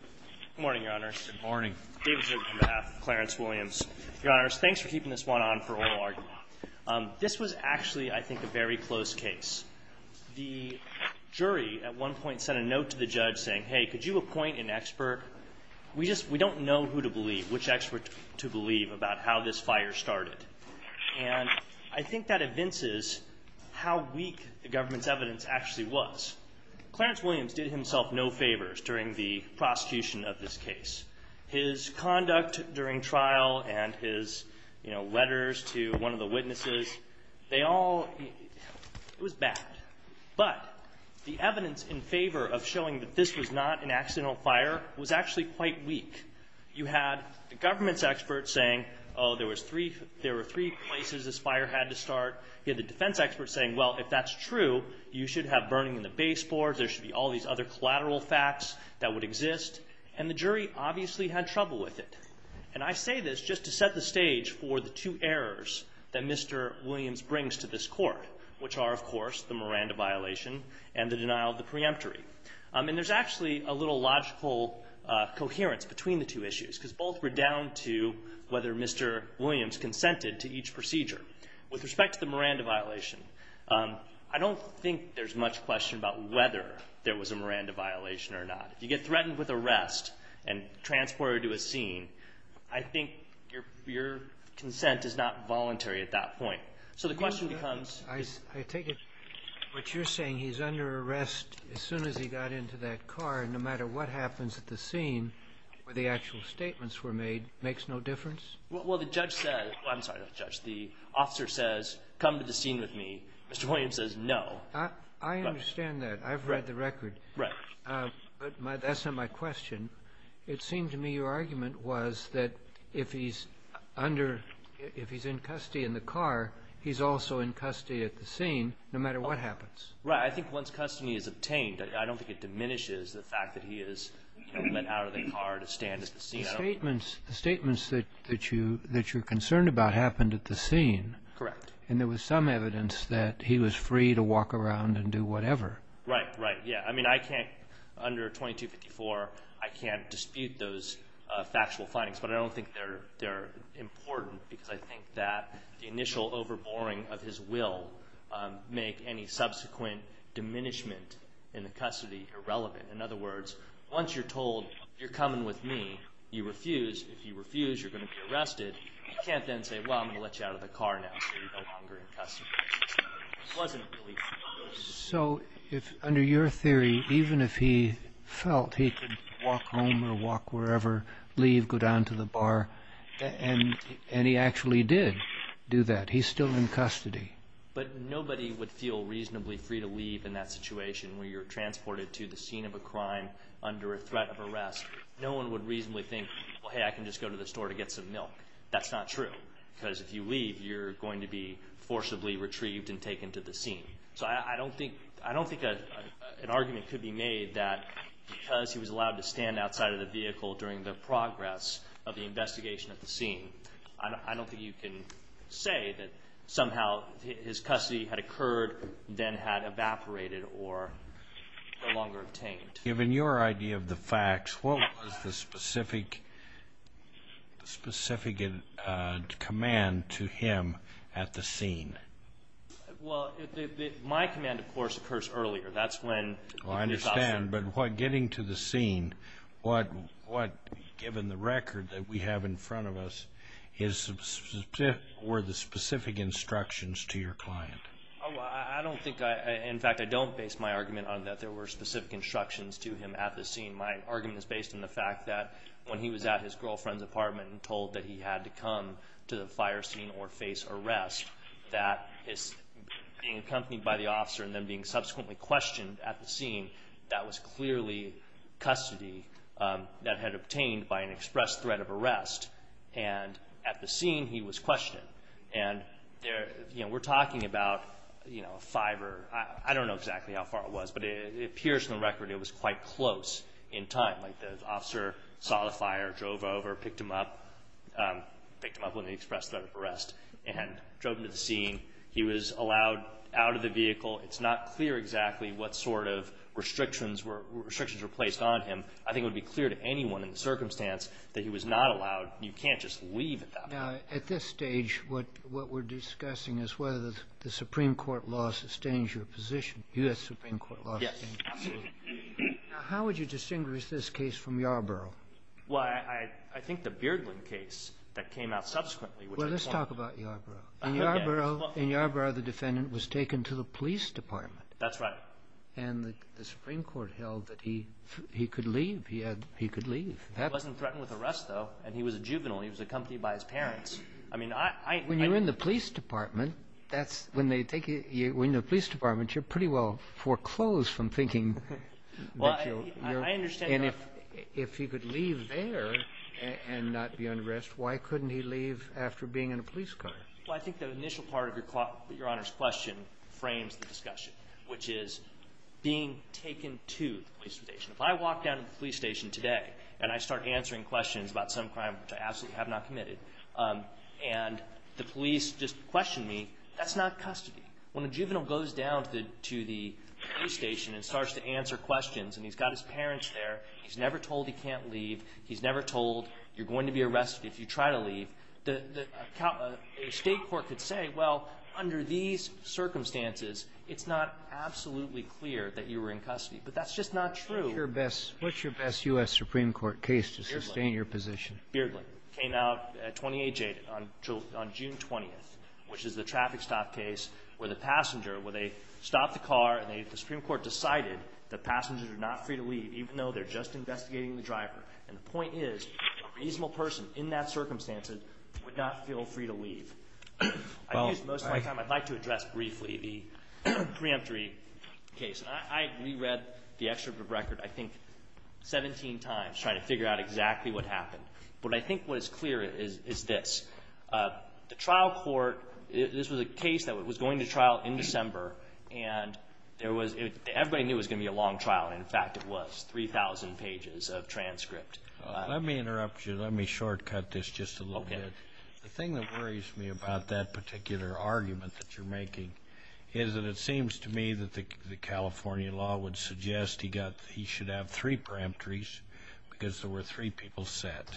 Good morning, Your Honors. David Giurbino on behalf of Clarence Williams. Your Honors, thanks for keeping this one on for oral argument. This was actually, I think, a very close case. The jury at one point sent a note to the judge saying, hey, could you appoint an expert? We don't know who to believe, which expert to believe about how this fire started. And I think that evinces how weak the government's evidence actually was. Clarence Williams did himself no favors during the prosecution of this case. His conduct during trial and his, you know, letters to one of the witnesses, they all, it was bad. But the evidence in favor of showing that this was not an accidental fire was actually quite weak. You had the government's experts saying, oh, there were three places this fire had to start. You had the defense experts saying, well, if that's true, you should have burning in the baseboards. There should be all these other collateral facts that would exist. And the jury obviously had trouble with it. And I say this just to set the stage for the two errors that Mr. Williams brings to this court, which are, of course, the Miranda violation and the denial of the preemptory. And there's actually a little logical coherence between the two issues because both were down to whether Mr. Williams consented to each procedure. With respect to the Miranda violation, I don't think there's much question about whether there was a Miranda violation or not. If you get threatened with arrest and transported to a scene, I think your consent is not voluntary at that point. So the question becomes- I take it what you're saying, he's under arrest as soon as he got into that car, no matter what happens at the scene where the actual statements were made, makes no difference? Well, the judge says – I'm sorry, not the judge. The officer says, come to the scene with me. Mr. Williams says no. I understand that. I've read the record. Right. But that's not my question. It seemed to me your argument was that if he's under – if he's in custody in the car, he's also in custody at the scene no matter what happens. Right. I think once custody is obtained, I don't think it diminishes the fact that he is, you know, let out of the car to stand at the scene. But the statements that you're concerned about happened at the scene. Correct. And there was some evidence that he was free to walk around and do whatever. Right, right, yeah. I mean, I can't – under 2254, I can't dispute those factual findings, but I don't think they're important because I think that the initial overboring of his will make any subsequent diminishment in the custody irrelevant. In other words, once you're told you're coming with me, you refuse. If you refuse, you're going to be arrested. You can't then say, well, I'm going to let you out of the car now so you're no longer in custody. It wasn't really free. So under your theory, even if he felt he could walk home or walk wherever, leave, go down to the bar, and he actually did do that, he's still in custody. But nobody would feel reasonably free to leave in that situation where you're transported to the scene of a crime under a threat of arrest. No one would reasonably think, well, hey, I can just go to the store to get some milk. That's not true because if you leave, you're going to be forcibly retrieved and taken to the scene. So I don't think an argument could be made that because he was allowed to stand outside of the vehicle during the progress of the investigation at the scene, I don't think you can say that somehow his custody had occurred or then had evaporated or no longer obtained. Given your idea of the facts, what was the specific command to him at the scene? Well, my command, of course, occurs earlier. That's when the police officer— I understand, but getting to the scene, what, given the record that we have in front of us, were the specific instructions to your client? I don't think—in fact, I don't base my argument on that there were specific instructions to him at the scene. My argument is based on the fact that when he was at his girlfriend's apartment and told that he had to come to the fire scene or face arrest, that his being accompanied by the officer and then being subsequently questioned at the scene, that was clearly custody that had obtained by an express threat of arrest. And at the scene, he was questioned. And we're talking about a five or—I don't know exactly how far it was, but it appears from the record it was quite close in time. Like the officer saw the fire, drove over, picked him up—picked him up when he expressed threat of arrest and drove him to the scene. He was allowed out of the vehicle. It's not clear exactly what sort of restrictions were placed on him. I think it would be clear to anyone in the circumstance that he was not allowed. You can't just leave at that point. Now, at this stage, what we're discussing is whether the Supreme Court law sustains your position. U.S. Supreme Court law. Yes, absolutely. Now, how would you distinguish this case from Yarborough? Well, I think the Beardland case that came out subsequently— Well, let's talk about Yarborough. In Yarborough, the defendant was taken to the police department. That's right. And the Supreme Court held that he could leave. He could leave. He wasn't threatened with arrest, though. And he was a juvenile. He was accompanied by his parents. I mean, I— When you're in the police department, that's—when they take you— when you're in the police department, you're pretty well foreclosed from thinking that you're— Well, I understand your— And if he could leave there and not be under arrest, why couldn't he leave after being in a police car? Well, I think the initial part of Your Honor's question frames the discussion, which is being taken to the police station. If I walk down to the police station today and I start answering questions about some crime, which I absolutely have not committed, and the police just question me, that's not custody. When a juvenile goes down to the police station and starts to answer questions, and he's got his parents there, he's never told he can't leave, he's never told you're going to be arrested if you try to leave, a state court could say, well, under these circumstances, it's not absolutely clear that you were in custody. But that's just not true. What's your best U.S. Supreme Court case to sustain your position? Beardley. It came out at 20H8 on June 20th, which is the traffic stop case where the passenger— where they stopped the car and the Supreme Court decided that passengers are not free to leave, even though they're just investigating the driver. And the point is a reasonable person in that circumstance would not feel free to leave. I used most of my time. I'd like to address briefly the preemptory case. I reread the excerpt of the record I think 17 times trying to figure out exactly what happened. But I think what is clear is this. The trial court, this was a case that was going to trial in December, and everybody knew it was going to be a long trial, and in fact it was, 3,000 pages of transcript. Let me interrupt you. Let me shortcut this just a little bit. The thing that worries me about that particular argument that you're making is that it seems to me that the California law would suggest he should have three preemptories because there were three people set.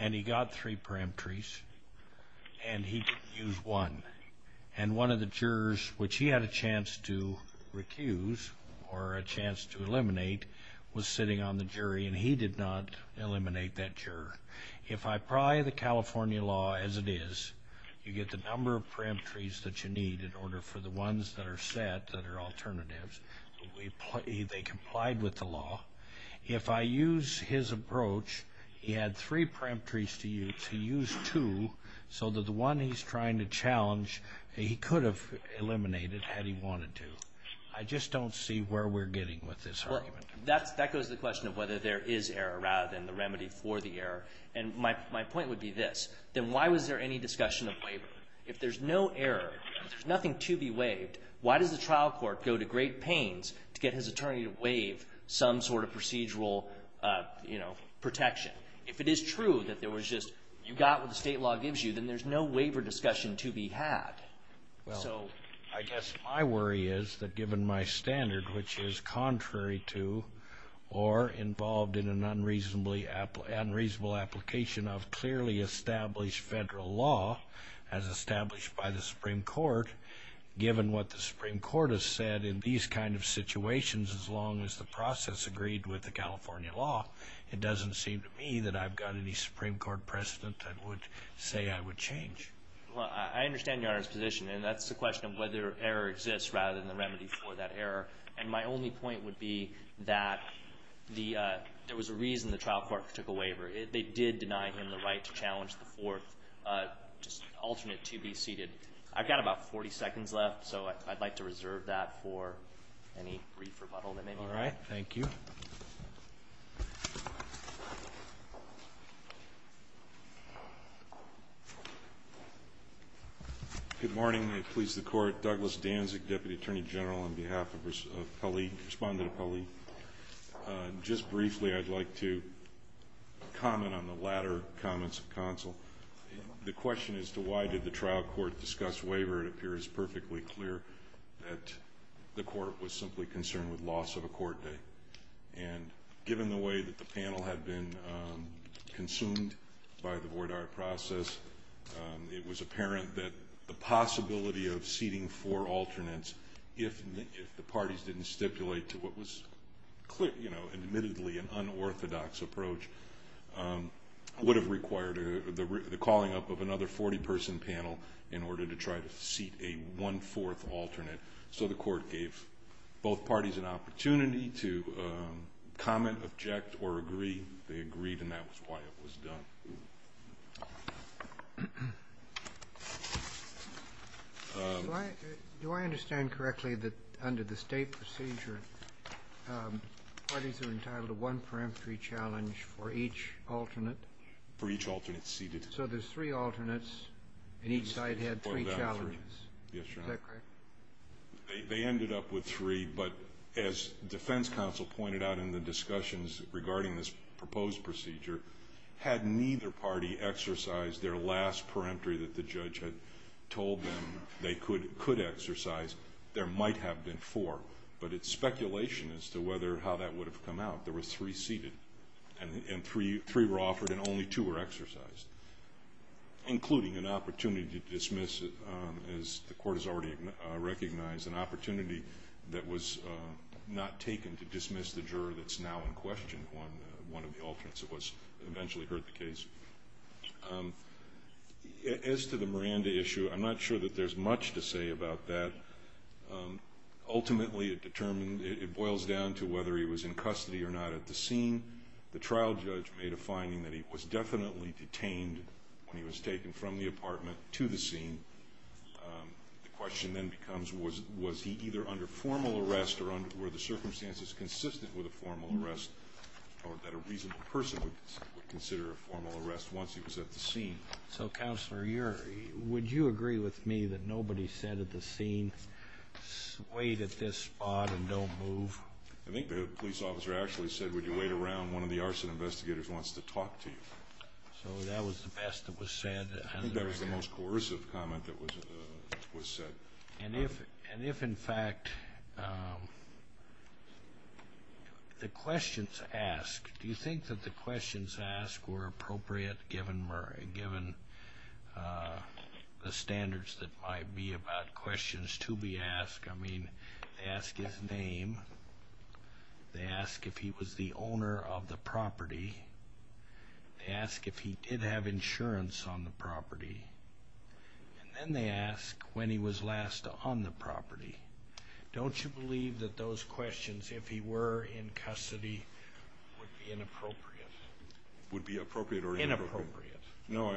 And he got three preemptories, and he didn't use one. And one of the jurors, which he had a chance to recuse or a chance to eliminate, was sitting on the jury, and he did not eliminate that juror. If I pry the California law as it is, you get the number of preemptories that you need in order for the ones that are set that are alternatives. They complied with the law. If I use his approach, he had three preemptories to use. He used two so that the one he's trying to challenge, he could have eliminated had he wanted to. I just don't see where we're getting with this argument. Well, that goes to the question of whether there is error rather than the remedy for the error. And my point would be this. Then why was there any discussion of waiver? If there's no error, if there's nothing to be waived, why does the trial court go to great pains to get his attorney to waive some sort of procedural protection? If it is true that there was just you got what the state law gives you, then there's no waiver discussion to be had. Well, I guess my worry is that given my standard, which is contrary to or involved in an unreasonable application of clearly established federal law as established by the Supreme Court, given what the Supreme Court has said in these kind of situations, as long as the process agreed with the California law, it doesn't seem to me that I've got any Supreme Court precedent that would say I would change. Well, I understand Your Honor's position, and that's the question of whether error exists rather than the remedy for that error. And my only point would be that there was a reason the trial court took a waiver. They did deny him the right to challenge the fourth, just alternate to be seated. I've got about 40 seconds left, so I'd like to reserve that for any brief rebuttal that may be needed. All right. Thank you. Good morning. I please the Court. Douglas Danzig, Deputy Attorney General, on behalf of Pauline, respondent of Pauline. Just briefly, I'd like to comment on the latter comments of counsel. The question as to why did the trial court discuss waiver, it appears perfectly clear that the court was simply concerned with loss of a court day. And given the way that the panel had been consumed by the voir dire process, it was apparent that the possibility of seating four alternates, if the parties didn't stipulate to what was admittedly an unorthodox approach, would have required the calling up of another 40-person panel in order to try to seat a one-fourth alternate. So the court gave both parties an opportunity to comment, object, or agree. They agreed, and that was why it was done. Do I understand correctly that under the state procedure, parties are entitled to one peremptory challenge for each alternate? For each alternate seated. So there's three alternates, and each side had three challenges. Yes, Your Honor. Is that correct? They ended up with three, but as defense counsel pointed out in the discussions regarding this proposed procedure, had neither party exercised their last peremptory that the judge had told them they could exercise, there might have been four. But it's speculation as to how that would have come out. There were three seated, and three were offered and only two were exercised, including an opportunity to dismiss, as the court has already recognized, an opportunity that was not taken to dismiss the juror that's now in question, one of the alternates that eventually heard the case. As to the Miranda issue, I'm not sure that there's much to say about that. Ultimately, it boils down to whether he was in custody or not at the scene. The trial judge made a finding that he was definitely detained when he was taken from the apartment to the scene. The question then becomes was he either under formal arrest or were the circumstances consistent with a formal arrest or that a reasonable person would consider a formal arrest once he was at the scene. So, Counselor, would you agree with me that nobody said at the scene, wait at this spot and don't move? I think the police officer actually said, would you wait around, one of the arson investigators wants to talk to you. So that was the best that was said? I think that was the most coercive comment that was said. And if, in fact, the questions asked, do you think that the questions asked were appropriate given the standards that might be about questions to be asked? I mean, they ask his name. They ask if he was the owner of the property. They ask if he did have insurance on the property. And then they ask when he was last on the property. Don't you believe that those questions, if he were in custody, would be inappropriate? Would be appropriate or inappropriate? Inappropriate. No,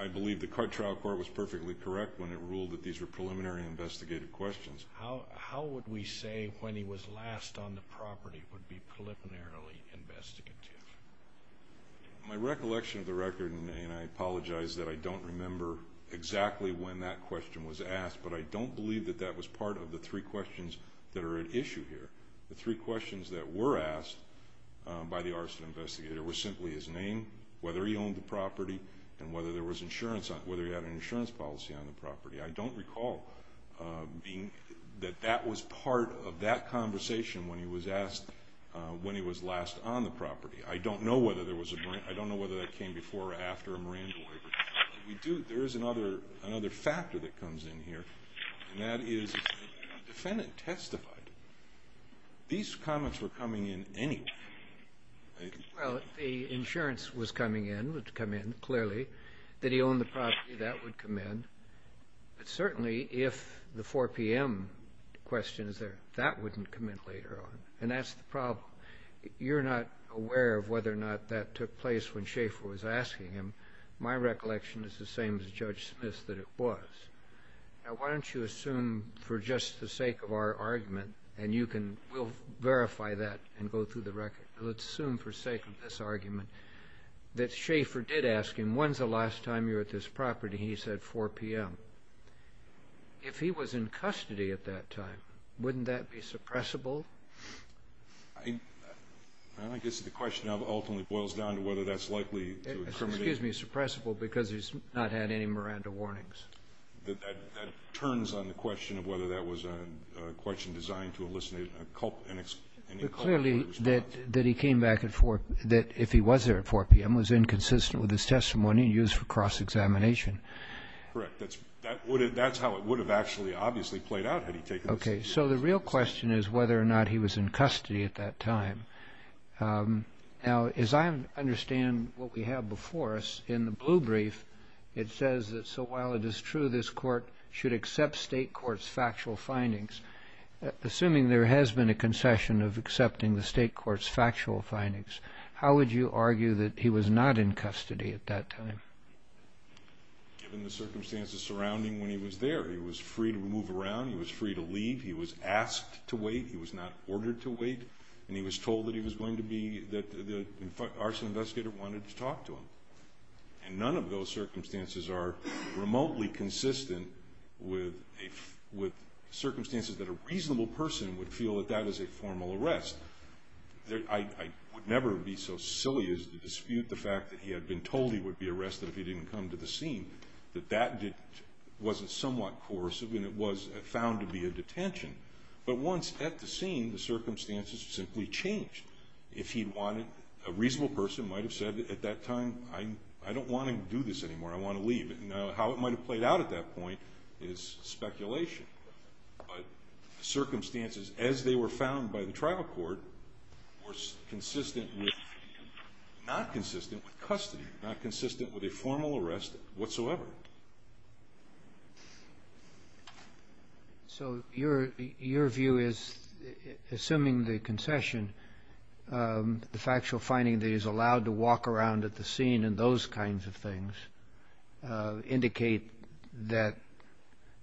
I believe the trial court was perfectly correct when it ruled that these were preliminary investigative questions. How would we say when he was last on the property would be preliminarily investigative? My recollection of the record, and I apologize that I don't remember exactly when that question was asked, but I don't believe that that was part of the three questions that are at issue here. The three questions that were asked by the arson investigator were simply his name, whether he owned the property, and whether he had an insurance policy on the property. I don't recall that that was part of that conversation when he was asked when he was last on the property. I don't know whether that came before or after a Miranda waiver. There is another factor that comes in here, and that is the defendant testified. These comments were coming in anyway. Well, the insurance was coming in, would come in clearly. Did he own the property? That would come in. But certainly if the 4 p.m. question is there, that wouldn't come in later on, and that's the problem. You're not aware of whether or not that took place when Schaefer was asking him. My recollection is the same as Judge Smith's that it was. Why don't you assume for just the sake of our argument, and you can verify that and go through the record. Let's assume for the sake of this argument that Schaefer did ask him, when's the last time you were at this property, and he said 4 p.m. If he was in custody at that time, wouldn't that be suppressible? I guess the question ultimately boils down to whether that's likely to occur. Excuse me, suppressible because he's not had any Miranda warnings. That turns on the question of whether that was a question designed to elicit any culpability. Clearly that he came back at 4 p.m. that if he was there at 4 p.m. was inconsistent with his testimony and used for cross-examination. Correct. That's how it would have actually obviously played out had he taken this. Okay. So the real question is whether or not he was in custody at that time. Now, as I understand what we have before us in the blue brief, it says that so while it is true this court should accept state courts' factual findings, assuming there has been a concession of accepting the state courts' factual findings, how would you argue that he was not in custody at that time? Given the circumstances surrounding when he was there, he was free to move around, he was free to leave, he was asked to wait, he was not ordered to wait, and he was told that the arson investigator wanted to talk to him. And none of those circumstances are remotely consistent with circumstances that a reasonable person would feel that that is a formal arrest. I would never be so silly as to dispute the fact that he had been told he would be arrested if he didn't come to the scene, that that wasn't somewhat coercive and it was found to be a detention. But once at the scene, the circumstances simply changed. If he wanted, a reasonable person might have said at that time, I don't want to do this anymore, I want to leave. Now, how it might have played out at that point is speculation. But circumstances as they were found by the tribal court were consistent with, not consistent with custody, not consistent with a formal arrest whatsoever. So your view is, assuming the concession, the factual finding that he's allowed to walk around at the scene and those kinds of things indicate that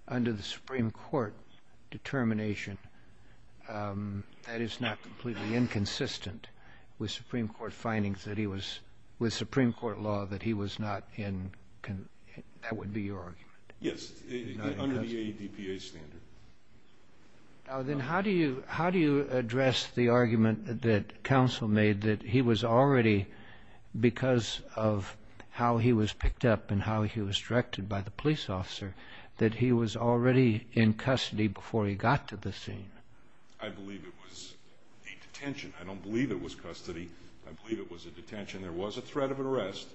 under the Supreme Court determination, that is not completely inconsistent with Supreme Court findings that he was, with Supreme Court law that he was not in, that would be your argument? Yes, under the ADPA standard. Then how do you address the argument that counsel made that he was already, because of how he was picked up and how he was directed by the police officer, that he was already in custody before he got to the scene? I believe it was a detention. I don't believe it was custody. I believe it was a detention. There was a threat of an arrest.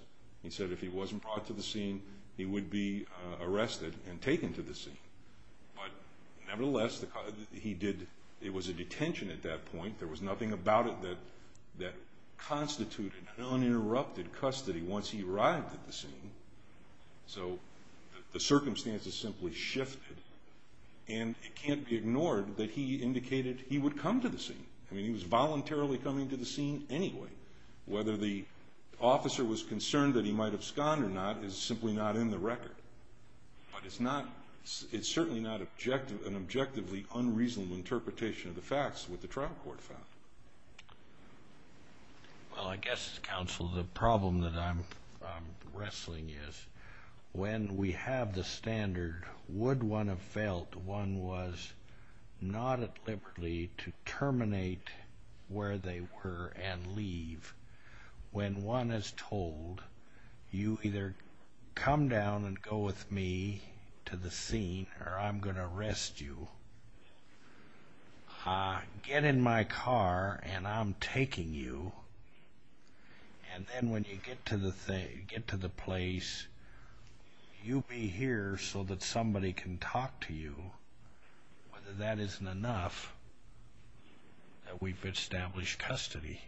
He said if he wasn't brought to the scene, he would be arrested and taken to the scene. But nevertheless, he did, it was a detention at that point. There was nothing about it that constituted uninterrupted custody once he arrived at the scene. So the circumstances simply shifted. And it can't be ignored that he indicated he would come to the scene. I mean, he was voluntarily coming to the scene anyway. Whether the officer was concerned that he might have sconed or not is simply not in the record. But it's not, it's certainly not an objectively unreasonable interpretation of the facts, what the trial court found. Well, I guess, counsel, the problem that I'm wrestling is when we have the standard, would one have felt one was not at liberty to terminate where they were and leave when one is told, you either come down and go with me to the scene or I'm going to arrest you. Get in my car and I'm taking you. And then when you get to the place, you'll be here so that somebody can talk to you, whether that isn't enough that we've established custody.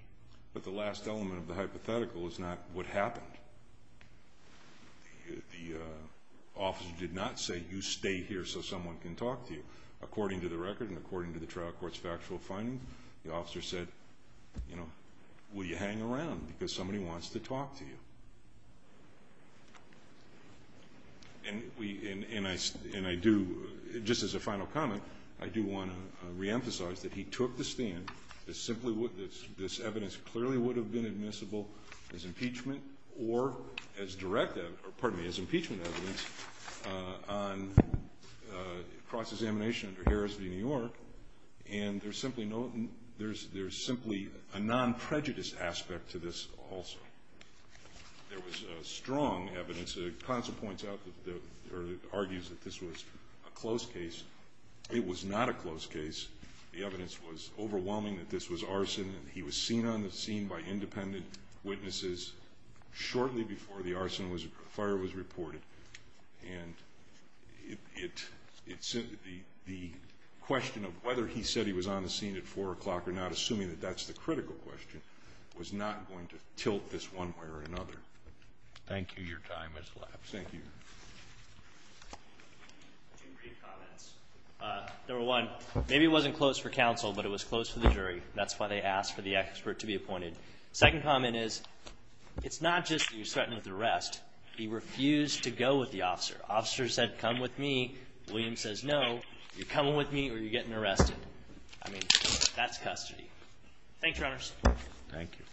But the last element of the hypothetical is not what happened. The officer did not say, you stay here so someone can talk to you. According to the record and according to the trial court's factual findings, the officer said, you know, will you hang around because somebody wants to talk to you. And I do, just as a final comment, I do want to reemphasize that he took the stand that this evidence clearly would have been admissible as impeachment or as direct evidence, or pardon me, as impeachment evidence on cross-examination under Harris v. New York, and there's simply a non-prejudice aspect to this also. There was strong evidence. The consul points out or argues that this was a close case. It was not a close case. The evidence was overwhelming that this was arson, and he was seen on the scene by independent witnesses shortly before the arson fire was reported. And the question of whether he said he was on the scene at 4 o'clock or not, assuming that that's the critical question, was not going to tilt this one way or another. Thank you. Your time has elapsed. Thank you. Two brief comments. Number one, maybe it wasn't close for counsel, but it was close for the jury. That's why they asked for the expert to be appointed. Second comment is, it's not just that he was threatened with arrest. He refused to go with the officer. The officer said, come with me. William says, no. You're coming with me or you're getting arrested. I mean, that's custody. Thanks, Your Honors. Thank you.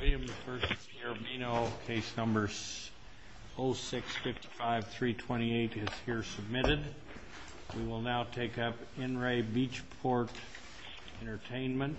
William versus Garibino case number 0655328 is here submitted. We will now take up NRA Beachport Entertainment.